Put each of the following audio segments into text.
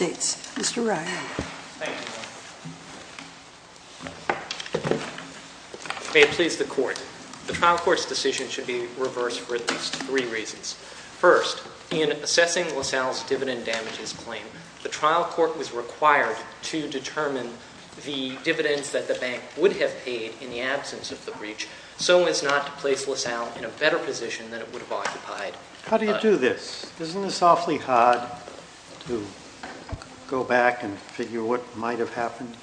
May it please the Court, the Trial Court's decision should be reversed for at least three reasons. First, in assessing LaSalle's dividend damages claim, the Trial Court was required to determine the dividends that the bank would have paid in the absence of the breach so as not to place LaSalle in a better position than it would have occupied. How do you do this? Isn't this awfully hard to go back and figure what might have happened?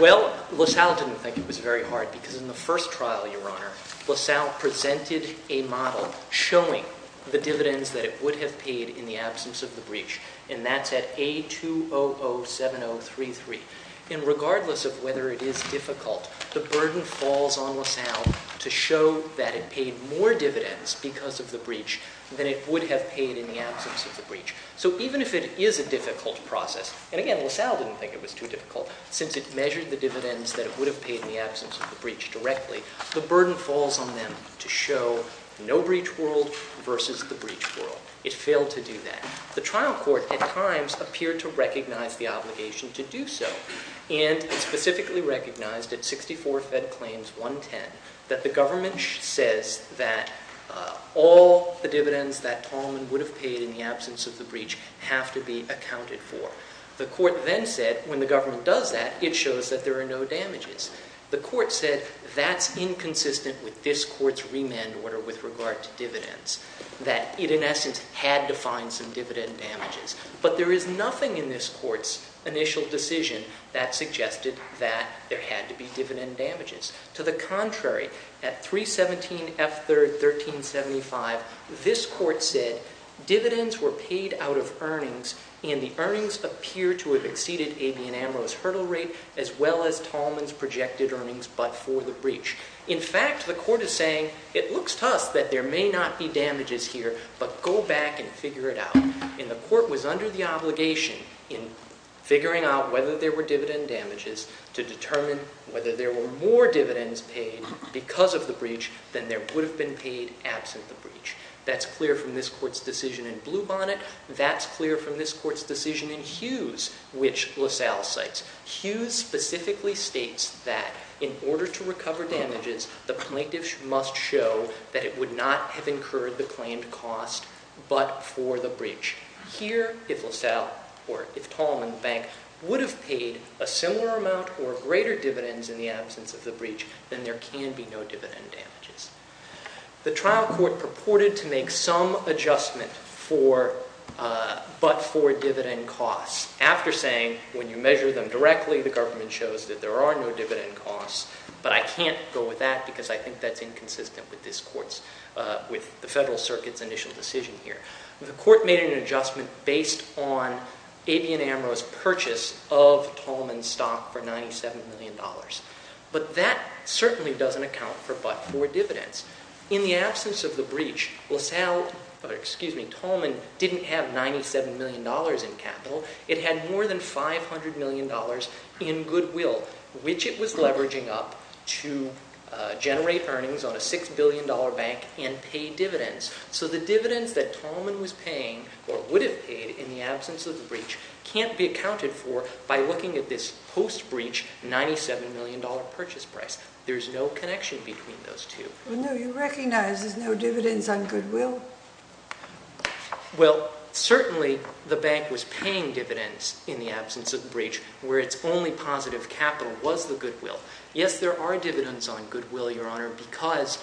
Well, LaSalle didn't think it was very hard because in the first trial, Your Honor, LaSalle presented a model showing the dividends that it would have paid in the absence of the breach, and that's at A2007033. And regardless of whether it is difficult, the burden falls on LaSalle to show that it would have paid in the absence of the breach. So even if it is a difficult process, and again, LaSalle didn't think it was too difficult since it measured the dividends that it would have paid in the absence of the breach directly, the burden falls on them to show no breach world versus the breach world. It failed to do that. The Trial Court at times appeared to recognize the obligation to do so and specifically recognized it, 64 Fed Claims 110, that the government says that all the dividends that Tallman would have paid in the absence of the breach have to be accounted for. The Court then said when the government does that, it shows that there are no damages. The Court said that's inconsistent with this Court's remand order with regard to dividends, that it in essence had to find some dividend damages. But there is nothing in this Court's initial decision that suggested that there had to be dividend damages. To the contrary, at 317F3R1375, this Court said, dividends were paid out of earnings and the earnings appear to have exceeded A.B. and Amaro's hurdle rate as well as Tallman's projected earnings but for the breach. In fact, the Court is saying, it looks to us that there may not be damages here, but go back and figure it out. And the Court was under the obligation in figuring out whether there were dividend damages to determine whether there were more dividends paid because of the breach than there would have been paid absent the breach. That's clear from this Court's decision in Bluebonnet. That's clear from this Court's decision in Hughes, which LaSalle cites. Hughes specifically states that in order to recover damages, the plaintiff must show that it would not have incurred the claimed cost but for the breach. Here if LaSalle or if Tallman Bank would have paid a similar amount or greater dividends in the absence of the breach, then there can be no dividend damages. The trial court purported to make some adjustment for but for dividend costs after saying, when you measure them directly, the government shows that there are no dividend costs, but I can't go with that because I think that's inconsistent with this Court's, with the Federal Circuit's initial decision here. The Court made an adjustment based on Abey and Amro's purchase of Tallman's stock for $97 million. But that certainly doesn't account for but for dividends. In the absence of the breach, LaSalle, excuse me, Tallman didn't have $97 million in capital. It had more than $500 million in goodwill, which it was leveraging up to generate earnings on a $6 billion bank and pay dividends. So the dividends that Tallman was paying or would have paid in the absence of the breach can't be accounted for by looking at this post-breach $97 million purchase price. There's no connection between those two. Well, no, you recognize there's no dividends on goodwill. Well, certainly the bank was paying dividends in the absence of the breach where its only positive capital was the goodwill. Yes, there are dividends on goodwill, Your Honor, because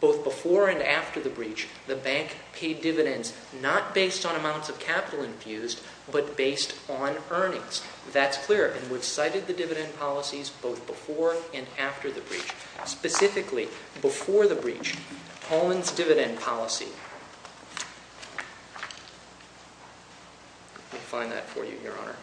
both before and after the breach, the bank paid dividends not based on amounts of capital infused, but based on earnings. That's clear. And we've cited the dividend policies both before and after the breach. Specifically, before the breach, Tallman's dividend policy. Let me find that for you, Your Honor.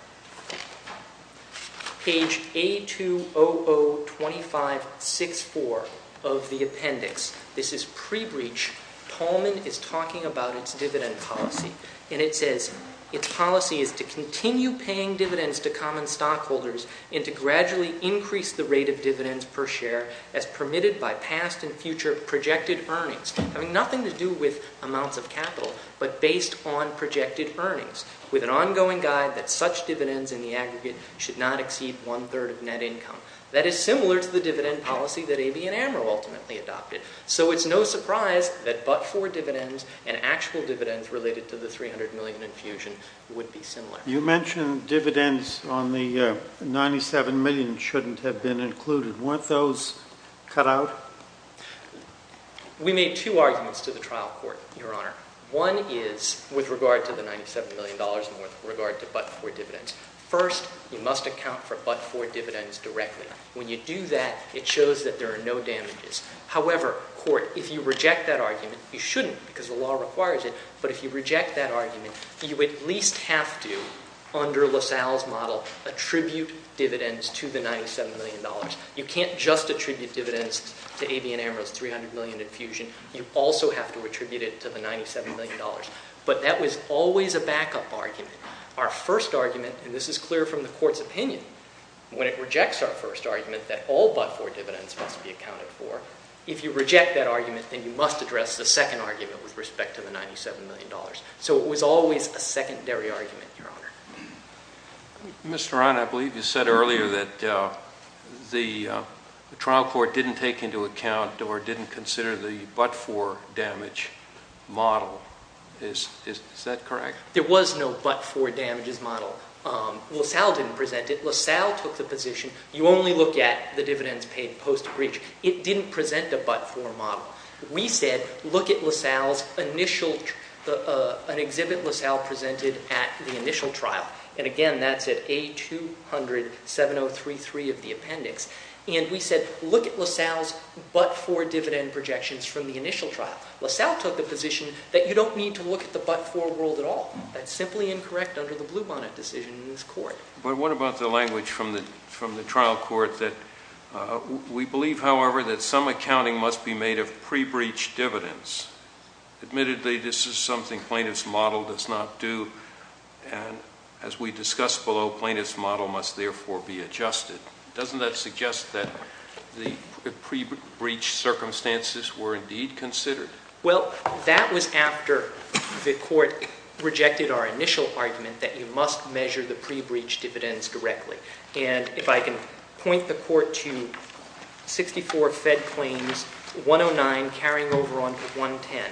Page A2002564 of the appendix. This is pre-breach. Tallman is talking about its dividend policy. And it says, its policy is to continue paying dividends to common stockholders and to gradually increase the rate of dividends per share as permitted by past and future projected earnings, having nothing to do with amounts of capital, but based on projected earnings, with an ongoing guide that such dividends in the aggregate should not exceed one-third of net income. That is similar to the dividend policy that AB and AMRO ultimately adopted. So it's no surprise that but-for dividends and actual dividends related to the $300 million infusion would be similar. You mentioned dividends on the $97 million shouldn't have been included. Weren't those cut out? We made two arguments to the trial court, Your Honor. One is with regard to the $97 million and with regard to but-for dividends. First, you must account for but-for dividends directly. When you do that, it shows that there are no damages. However, court, if you reject that argument, you shouldn't because the law requires it. But if you reject that argument, you at least have to, under LaSalle's model, attribute dividends to the $97 million. You can't just attribute dividends to AB and AMRO's $300 million infusion. You also have to attribute it to the $97 million. But that was always a backup argument. Our first argument, and this is clear from the court's opinion, when it rejects our first argument that all but-for dividends must be accounted for, if you reject that argument, then you must address the second argument with respect to the $97 million. So it was always a secondary argument, Your Honor. Mr. Aran, I believe you said earlier that the trial court didn't take into account or didn't consider the but-for damage model. Is that correct? There was no but-for damages model. LaSalle didn't present it. LaSalle took the position, you only look at the dividends paid post-abreach. It didn't present a but-for model. We said, look at LaSalle's initial, an exhibit LaSalle presented at the initial trial. And again, that's at A2007033 of the appendix. And we said, look at LaSalle's but-for dividend projections from the initial trial. LaSalle took the position that you don't need to look at the but-for world at all. That's simply incorrect under the Bluebonnet decision in this court. But what about the language from the trial court that we believe, however, that some accounting must be made of pre-breach dividends? Admittedly, this is something plaintiff's model does not do. And as we discussed below, plaintiff's model must therefore be adjusted. Doesn't that suggest that the pre-breach circumstances were indeed considered? Well, that was after the court rejected our initial argument that you must measure the pre-breach dividends directly. And if I can point the court to 64 Fed Claims 109, carrying over onto 110.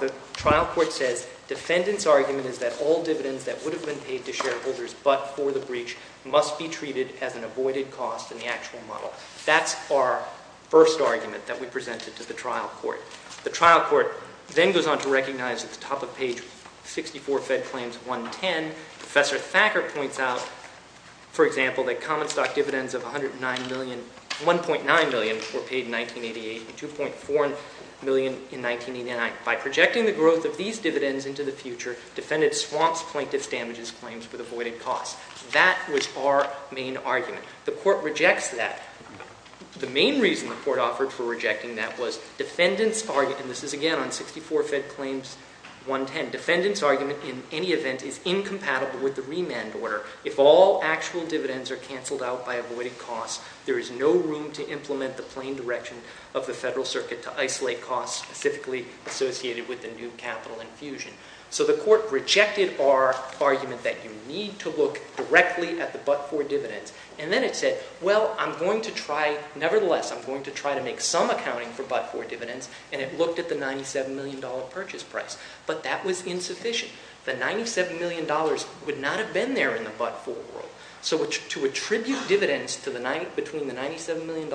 The trial court says, defendant's argument is that all dividends that would have been paid to shareholders but for the breach must be treated as an avoided cost in the actual model. That's our first argument that we presented to the trial court. The trial court then goes on to recognize at the top of page 64 Fed Claims 110, Professor Thacker points out, for example, that common stock dividends of $1.9 million were paid in 1988, $2.4 million in 1989. By projecting the growth of these dividends into the future, defendant swamps plaintiff's damages claims with avoided costs. That was our main argument. The court rejects that. The main reason the court offered for rejecting that was defendant's argument, and this is again on 64 Fed Claims 110. Defendant's argument, in any event, is incompatible with the remand order. If all actual dividends are canceled out by avoided costs, there is no room to implement the plain direction of the federal circuit to isolate costs specifically associated with the new capital infusion. So the court rejected our argument that you need to look directly at the but-for dividends. And then it said, well, I'm going to try, nevertheless, I'm going to try to make some accounting for but-for dividends. And it looked at the $97 million purchase price. But that was insufficient. The $97 million would not have been there in the but-for world. So to attribute dividends between the $97 million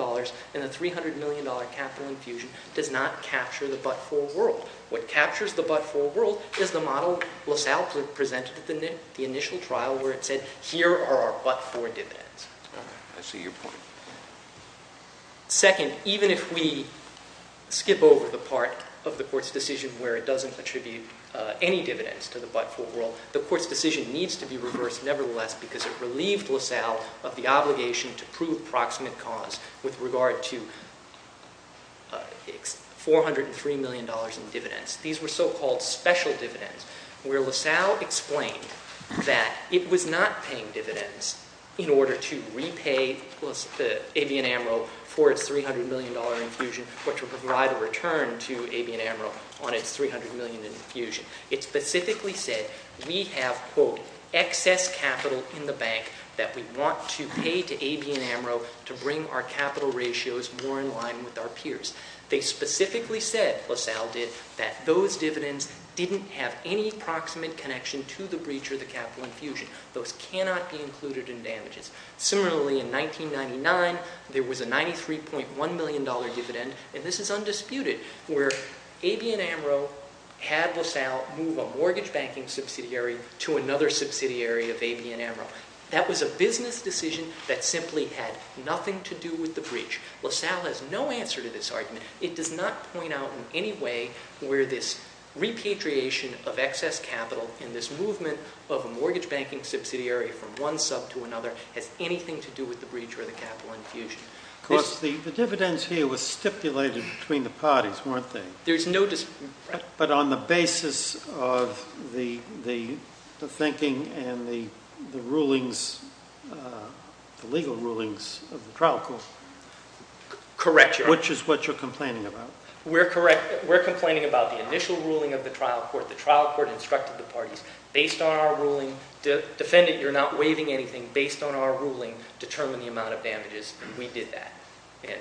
and the $300 million capital infusion does not capture the but-for world. What captures the but-for world is the model LaSalle presented at the initial trial where it said, here are our but-for dividends. All right, I see your point. Second, even if we skip over the part of the court's decision where it doesn't attribute any dividends to the but-for world, the court's decision needs to be reversed, nevertheless, because it relieved LaSalle of the obligation to prove proximate cause with regard to $403 million in dividends. These were so-called special dividends, where LaSalle explained that it was not paying dividends in order to repay the Avian Amaro for its $300 million infusion, but to provide a return to Avian Amaro on its $300 million infusion. It specifically said, we have, quote, excess capital in the bank that we want to pay to Avian Amaro to bring our capital ratios more in line with our peers. They specifically said, LaSalle did, that those dividends didn't have any proximate connection to the breach or the capital infusion. Those cannot be included in damages. Similarly, in 1999, there was a $93.1 million dividend, and this is undisputed, where Avian Amaro had LaSalle move a mortgage banking subsidiary to another subsidiary of Avian Amaro. That was a business decision that simply had nothing to do with the breach. LaSalle has no answer to this argument. It does not point out in any way where this repatriation of excess capital and this movement of a mortgage banking subsidiary from one sub to another has anything to do with the breach or the capital infusion. Of course, the dividends here were stipulated between the parties, weren't they? There's no dispute. But on the basis of the thinking and the legal rulings of the trial court. Correct, Your Honor. Which is what you're complaining about. We're complaining about the initial ruling of the trial court. The trial court instructed the parties, based on our ruling, defendant, you're not waiving anything, based on our ruling, determine the amount of damages, and we did that. And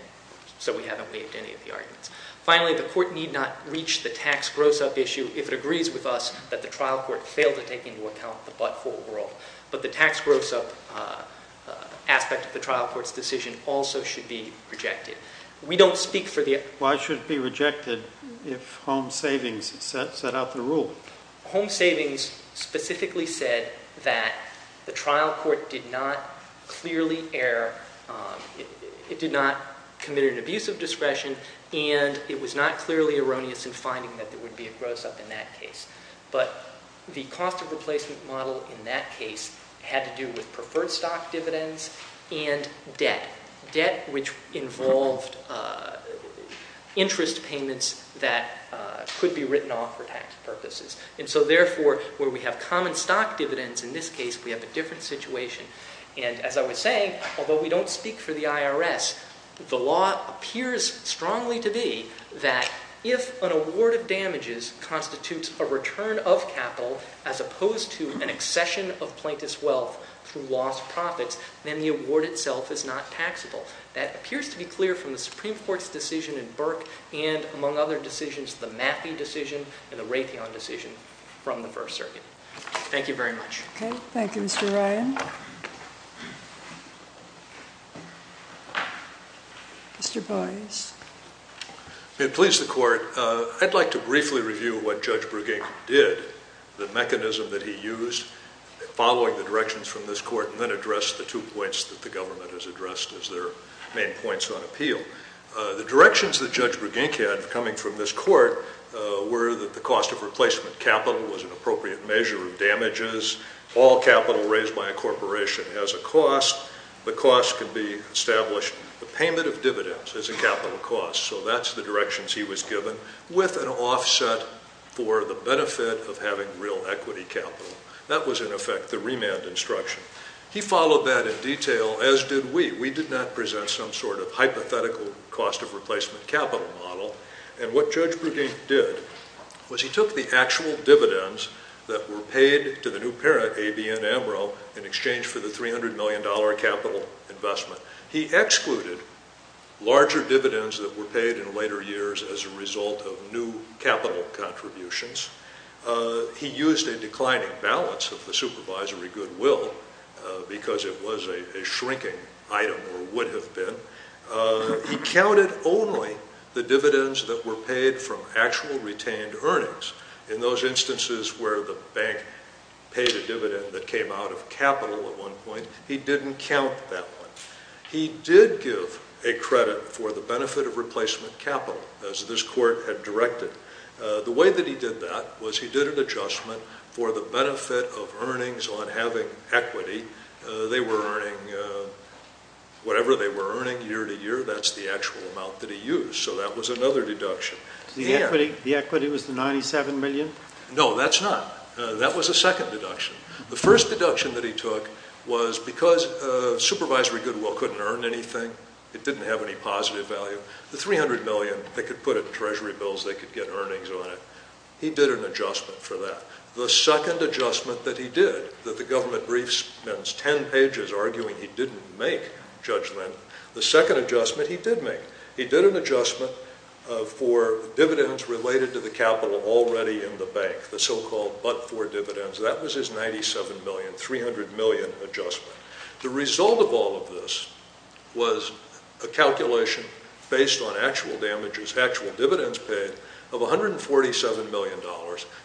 so we haven't waived any of the arguments. Finally, the court need not reach the tax gross-up issue if it agrees with us that the trial court failed to take into account the but-for world. But the tax gross-up aspect of the trial court's decision also should be rejected. We don't speak for the- Why should it be rejected if home savings set out the rule? Home savings specifically said that the trial court did not clearly err, it did not commit an abuse of discretion, and it was not clearly erroneous in finding that there would be a gross-up in that case. But the cost of replacement model in that case had to do with preferred stock dividends and debt, debt which involved interest payments that could be written off for tax purposes. And so therefore, where we have common stock dividends in this case, we have a different situation. And as I was saying, although we don't speak for the IRS, the law appears strongly to be that if an award of damages constitutes a return of capital as opposed to an accession of plaintiff's wealth through lost profits, then the award itself is not taxable. That appears to be clear from the Supreme Court's decision in Burke and among other decisions, the Maffie decision and the Raytheon decision from the First Circuit. Thank you very much. Okay. Thank you, Mr. Ryan. Mr. Boyce. May it please the court, I'd like to briefly review what Judge Brugink did, the mechanism that he used following the directions from this court, and then address the two points that the government has addressed as their main points on appeal. The directions that Judge Brugink had coming from this court were that the cost of replacement capital was an appropriate measure of damages. All capital raised by a corporation has a cost. The cost could be established, the payment of dividends is a capital cost. So that's the directions he was given with an offset for the benefit of having real equity capital. That was in effect the remand instruction. He followed that in detail, as did we. We did not present some sort of hypothetical cost of replacement capital model. And what Judge Brugink did was he took the actual dividends that were paid to the new parent, ABN Amaro, in exchange for the $300 million capital investment. He excluded larger dividends that were paid in later years as a result of new capital contributions. He used a declining balance of the supervisory goodwill, because it was a shrinking item, or would have been. He counted only the dividends that were paid from actual retained earnings. In those instances where the bank paid a dividend that came out of capital at one point, he didn't count that one. He did give a credit for the benefit of replacement capital, as this court had directed. The way that he did that was he did an adjustment for the benefit of earnings on having equity. They were earning, whatever they were earning year to year, that's the actual amount that he used. So that was another deduction. The equity was the 97 million? No, that's not. That was a second deduction. The first deduction that he took was because supervisory goodwill couldn't earn anything, it didn't have any positive value. The 300 million, they could put it in treasury bills, they could get earnings on it, he did an adjustment for that. The second adjustment that he did, that the government brief spends ten pages arguing he didn't make, Judge Linn, the second adjustment he did make. He did an adjustment for dividends related to the capital already in the bank, the so-called but-for dividends. That was his 97 million, 300 million adjustment. The result of all of this was a calculation based on actual damages, actual dividends paid of $147 million.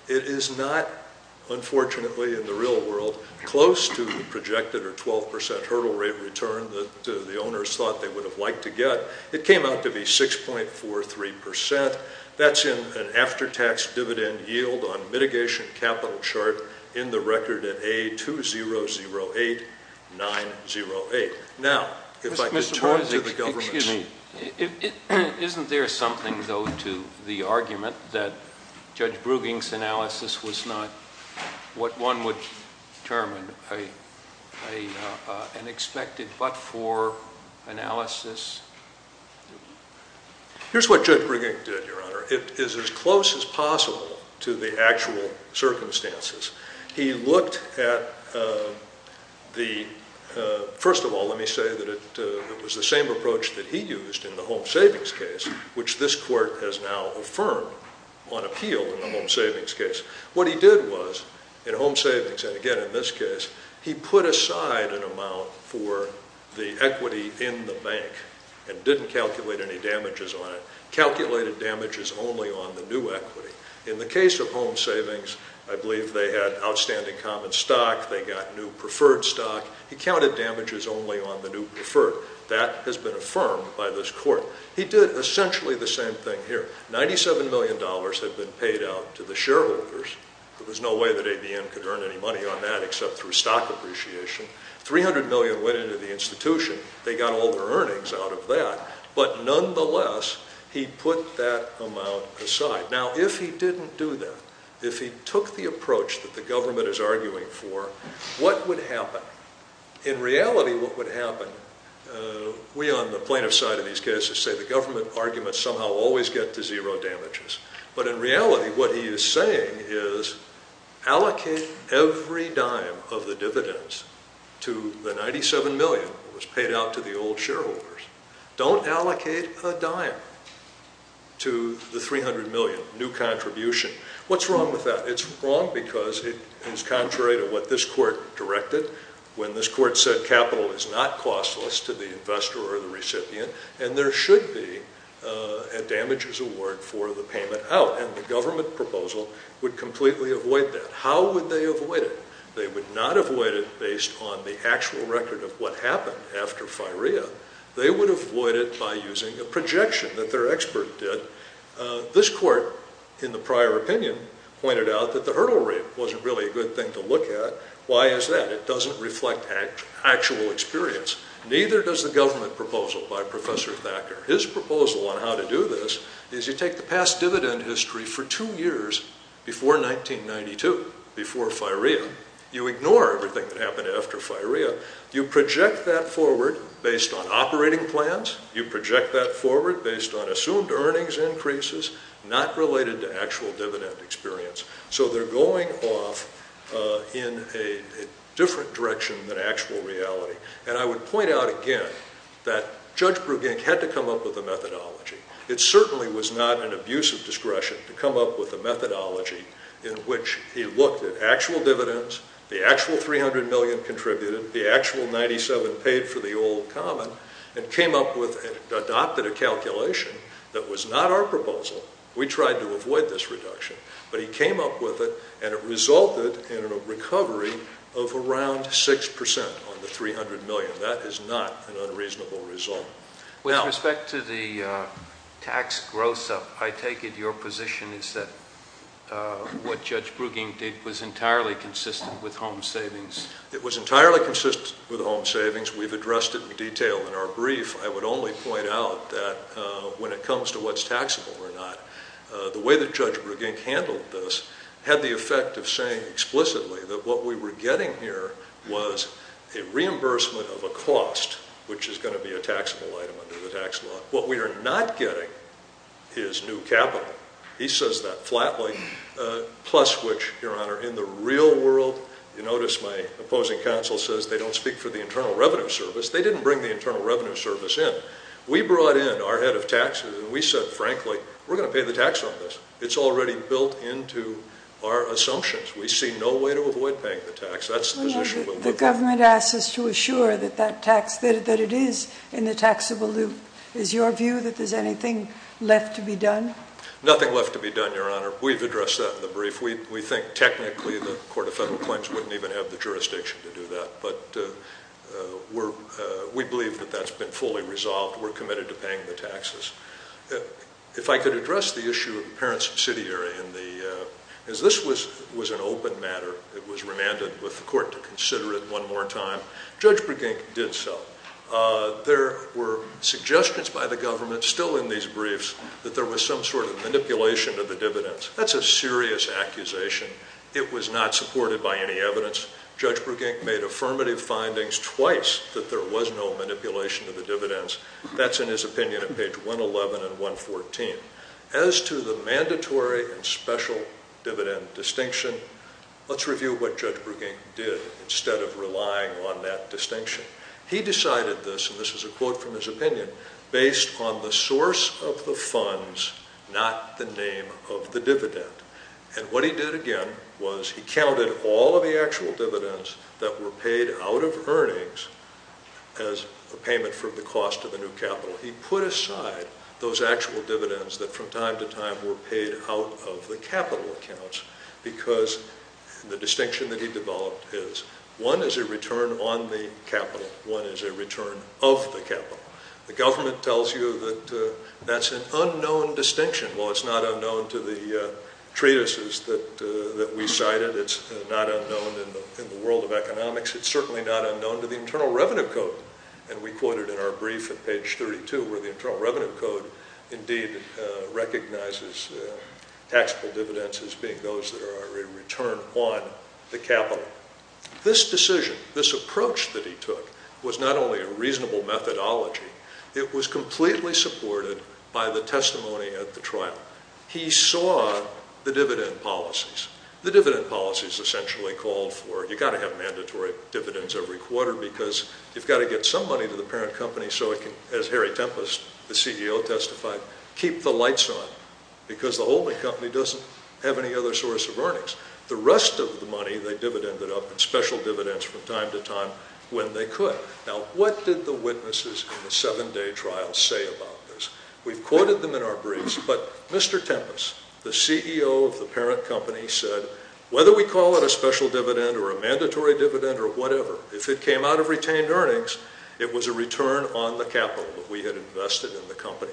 It is not, unfortunately, in the real world, close to the projected or 12% hurdle rate return that the owners thought they would have liked to get. It came out to be 6.43%. That's in an after-tax dividend yield on mitigation capital chart in the record at A2008908. Now, if I could turn to the government. Excuse me, isn't there something though to the argument that Judge Brueging's analysis was not what one would term an expected but-for analysis? Here's what Judge Brueging did, Your Honor. It is as close as possible to the actual circumstances. He looked at the, first of all, let me say that it was the same approach that he used in the home savings case, which this court has now affirmed on appeal in the home savings case. What he did was, in home savings, and again in this case, he put aside an amount for the equity in the bank and didn't calculate any damages on it, calculated damages only on the new equity. In the case of home savings, I believe they had outstanding common stock. They got new preferred stock. He counted damages only on the new preferred. That has been affirmed by this court. He did essentially the same thing here. $97 million had been paid out to the shareholders. There was no way that ABM could earn any money on that except through stock appreciation. 300 million went into the institution. They got all their earnings out of that. But nonetheless, he put that amount aside. Now, if he didn't do that, if he took the approach that the government is arguing for, what would happen? In reality, what would happen, we on the plaintiff side of these cases say the government arguments somehow always get to zero damages. But in reality, what he is saying is, allocate every dime of the dividends to the 97 million that was paid out to the old shareholders. Don't allocate a dime to the 300 million, new contribution. What's wrong with that? It's wrong because it is contrary to what this court directed when this court said capital is not costless to the investor or the recipient, and there should be a damages award for the payment out. And the government proposal would completely avoid that. How would they avoid it? They would not avoid it based on the actual record of what happened after FIREA. They would avoid it by using a projection that their expert did. This court, in the prior opinion, pointed out that the hurdle rate wasn't really a good thing to look at. Why is that? It doesn't reflect actual experience. Neither does the government proposal by Professor Thacker. His proposal on how to do this is you take the past dividend history for two years before 1992, before FIREA. You ignore everything that happened after FIREA. You project that forward based on operating plans. You project that forward based on assumed earnings increases, not related to actual dividend experience. So they're going off in a different direction than actual reality. And I would point out again that Judge Brugink had to come up with a methodology. It certainly was not an abuse of discretion to come up with a methodology in which he looked at actual dividends, the actual $300 million contributed, the actual $97 been paid for the old common, and came up with and adopted a calculation that was not our proposal. We tried to avoid this reduction. But he came up with it. And it resulted in a recovery of around 6% on the $300 million. That is not an unreasonable result. With respect to the tax gross up, I take it your position is that what Judge Brugink did was entirely consistent with home savings. It was entirely consistent with home savings. We've addressed it in detail in our brief. I would only point out that when it comes to what's taxable or not, the way that Judge Brugink handled this had the effect of saying explicitly that what we were getting here was a reimbursement of a cost, which is going to be a taxable item under the tax law. What we are not getting is new capital. He says that flatly, plus which, Your Honor, in the real world, you notice my opposing counsel says they don't speak for the Internal Revenue Service. They didn't bring the Internal Revenue Service in. We brought in our head of taxes. And we said, frankly, we're going to pay the tax on this. It's already built into our assumptions. We see no way to avoid paying the tax. That's the position we're moving on. The government asks us to assure that it is in the taxable loop. Is your view that there's anything left to be done? Nothing left to be done, Your Honor. We've addressed that in the brief. We think, technically, the Court of Federal Claims wouldn't even have the jurisdiction to do that. But we believe that that's been fully resolved. We're committed to paying the taxes. If I could address the issue of the parent subsidiary. As this was an open matter, it was remanded with the court to consider it one more time. Judge Brugink did so. There were suggestions by the government, still in these briefs, that there was some sort of manipulation of the dividends. That's a serious accusation. It was not supported by any evidence. Judge Brugink made affirmative findings twice that there was no manipulation of the dividends. That's in his opinion at page 111 and 114. As to the mandatory and special dividend distinction, let's review what Judge Brugink did instead of relying on that distinction. He decided this, and this is a quote from his opinion, based on the source of the funds, not the name of the dividend. And what he did again was he counted all of the actual dividends that were paid out of earnings as a payment for the cost of the new capital. He put aside those actual dividends that from time to time were paid out of the capital accounts because the distinction that he developed is one is a return on the capital. One is a return of the capital. The government tells you that that's an unknown distinction. Well, it's not unknown to the treatises that we cited. It's not unknown in the world of economics. It's certainly not unknown to the Internal Revenue Code. And we quoted in our brief at page 32 where the Internal Revenue Code indeed recognizes taxable dividends as being those that are a return on the capital. This decision, this approach that he took was not only a reasonable methodology, it was completely supported by the testimony at the trial. He saw the dividend policies. The dividend policies essentially called for, you gotta have mandatory dividends every quarter because you've gotta get some money to the parent company so it can, as Harry Tempest, the CEO testified, keep the lights on because the holding company doesn't have any other source of earnings. The rest of the money they divided up in special dividends from time to time when they could. Now, what did the witnesses in the seven-day trial say about this? We've quoted them in our briefs, but Mr. Tempest, the CEO of the parent company said, whether we call it a special dividend or a mandatory dividend or whatever, if it came out of retained earnings, it was a return on the capital that we had invested in the company.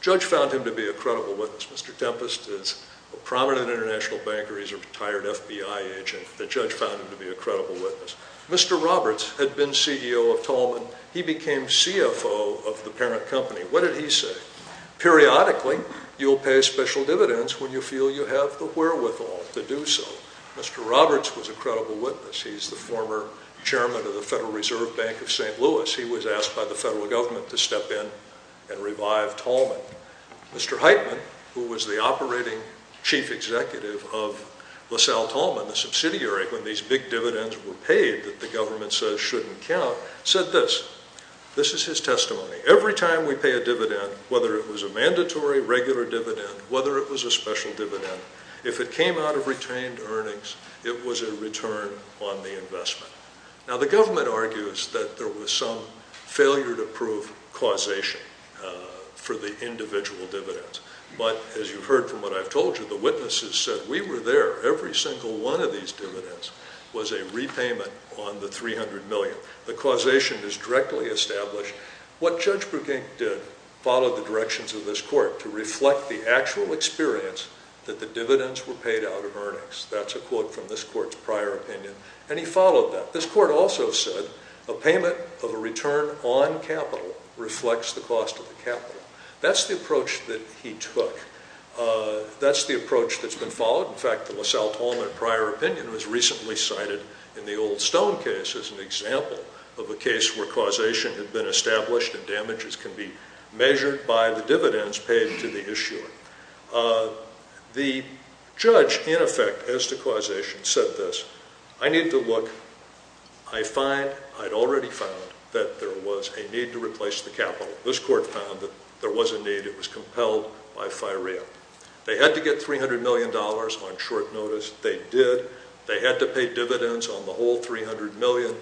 Judge found him to be a credible witness. Mr. Tempest is a prominent international banker. He's a retired FBI agent. The judge found him to be a credible witness. Mr. Roberts had been CEO of Tallman. He became CFO of the parent company. What did he say? Periodically, you'll pay special dividends when you feel you have the wherewithal to do so. Mr. Roberts was a credible witness. He's the former chairman of the Federal Reserve Bank of St. Louis. He was asked by the federal government to step in and revive Tallman. Mr. Heitman, who was the operating chief executive of LaSalle Tallman, the subsidiary, when these big dividends were paid that the government says shouldn't count, said this. This is his testimony. Every time we pay a dividend, whether it was a mandatory regular dividend, whether it was a special dividend, if it came out of retained earnings, it was a return on the investment. Now, the government argues that there was some failure to prove causation for the individual dividends. But as you've heard from what I've told you, the witnesses said, we were there. Every single one of these dividends was a repayment on the 300 million. The causation is directly established. What Judge Brueghink did followed the directions of this court to reflect the actual experience that the dividends were paid out of earnings. That's a quote from this court's prior opinion, and he followed that. This court also said a payment of a return on capital reflects the cost of the capital. That's the approach that he took. That's the approach that's been followed. In fact, the LaSalle-Tolman prior opinion was recently cited in the Old Stone case as an example of a case where causation had been established and damages can be measured by the dividends paid to the issuer. The judge, in effect, as to causation, said this. I need to look. I find, I'd already found, that there was a need to replace the capital. This court found that there was a need. It was compelled by firea. They had to get $300 million on short notice. They did. They had to pay dividends on the whole 300 million.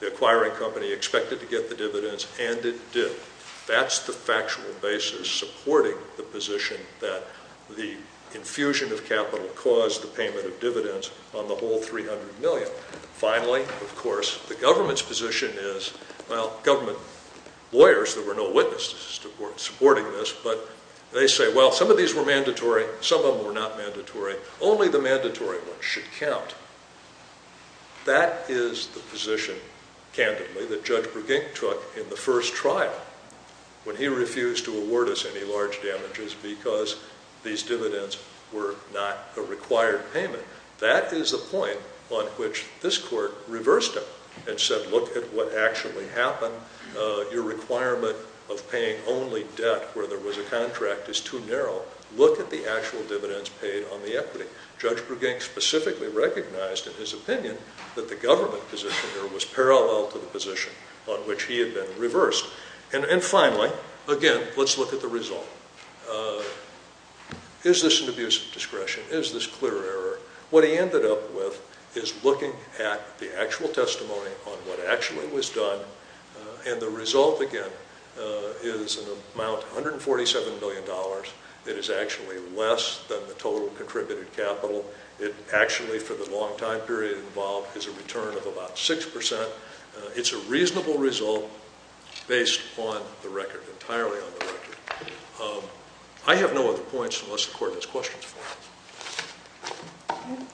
The acquiring company expected to get the dividends, and it did. That's the factual basis supporting the position that the infusion of capital caused the payment of dividends on the whole 300 million. Finally, of course, the government's position is, well, government lawyers, there were no witnesses to support supporting this, but they say, well, some of these were mandatory. Some of them were not mandatory. Only the mandatory ones should count. That is the position, candidly, that Judge Bregink took in the first trial when he refused to award us any large damages because these dividends were not a required payment. That is the point on which this court reversed him and said, look at what actually happened. Your requirement of paying only debt where there was a contract is too narrow. Look at the actual dividends paid on the equity. Judge Bregink specifically recognized, in his opinion, that the government position here was parallel to the position on which he had been reversed. And finally, again, let's look at the result. Is this an abuse of discretion? Is this clear error? What he ended up with is looking at the actual testimony on what actually was done. And the result, again, is an amount, $147 million. It is actually less than the total contributed capital. It actually, for the long time period involved, is a return of about 6%. It's a reasonable result based on the record, entirely on the record. I have no other points unless the court has questions for me.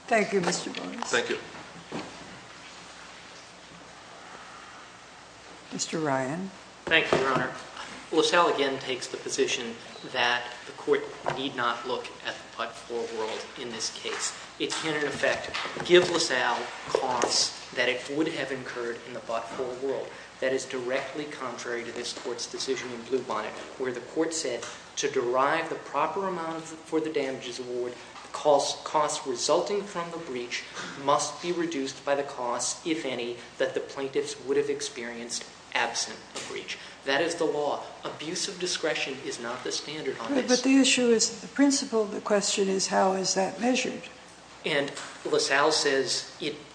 Thank you, Mr. Bones. Thank you. Mr. Ryan. Thank you, Your Honor. LaSalle again takes the position that the court need not look at the but-for world in this case. It can, in effect, give LaSalle costs that it would have incurred in the but-for world. That is directly contrary to this court's decision in Bluebonnet, where the court said to derive the proper amount for the damages award, the costs resulting from the breach must be reduced by the costs, if any, that the plaintiffs would have experienced absent a breach. That is the law. Abuse of discretion is not the standard on this. But the issue is, the principle of the question is how is that measured? And LaSalle says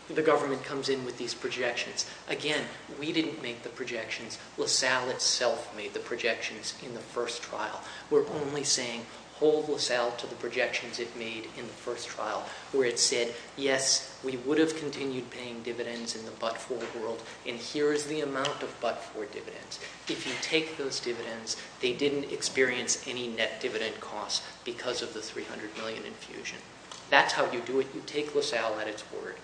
the government comes in with these projections. Again, we didn't make the projections. LaSalle itself made the projections in the first trial. We're only saying hold LaSalle to the projections it made in the first trial, where it said, yes, we would have continued paying dividends in the but-for world, and here is the amount of but-for dividends. If you take those dividends, they didn't experience any net dividend costs because of the $300 million infusion. That's how you do it. You take LaSalle at its word.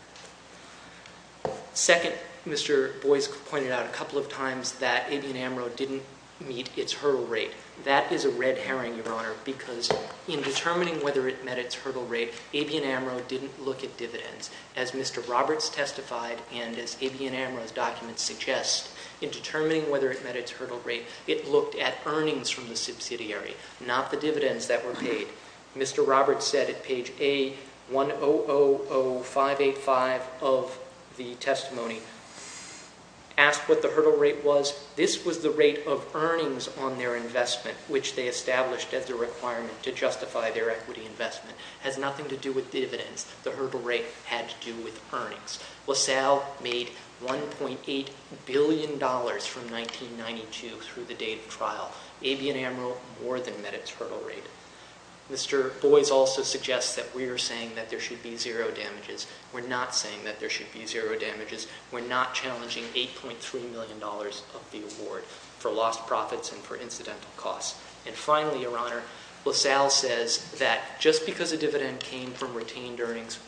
Second, Mr. Boyce pointed out a couple of times that Abian-Amaro didn't meet its hurdle rate. That is a red herring, Your Honor, Abian-Amaro didn't look at dividends. As Mr. Roberts testified, and as Abian-Amaro's documents suggest, in determining whether it met its hurdle rate, it looked at earnings from the subsidiary, not the dividends that were paid. Mr. Roberts said at page A-1000585 of the testimony, asked what the hurdle rate was. This was the rate of earnings on their investment, which they established as a requirement to justify their equity investment. Has nothing to do with dividends. The hurdle rate had to do with earnings. LaSalle made $1.8 billion from 1992 through the date of trial. Abian-Amaro more than met its hurdle rate. Mr. Boyce also suggests that we are saying that there should be zero damages. We're not saying that there should be zero damages. We're not challenging $8.3 million of the award for lost profits and for incidental costs. And finally, Your Honor, LaSalle says that just because a dividend came from retained earnings,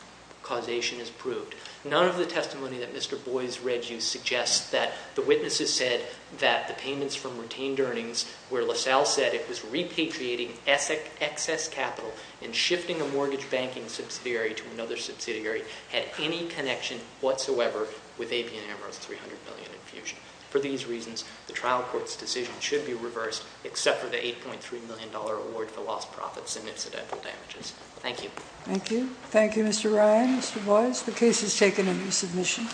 causation is proved. None of the testimony that Mr. Boyce read you suggests that the witnesses said that the payments from retained earnings, where LaSalle said it was repatriating excess capital and shifting a mortgage banking subsidiary to another subsidiary, had any connection whatsoever with Abian-Amaro's $300 million infusion. For these reasons, the trial court's decision should be reversed, except for the $8.3 million award for lost profits and incidental damages. Thank you. Thank you. Thank you, Mr. Ryan, Mr. Boyce. The case is taken into submission.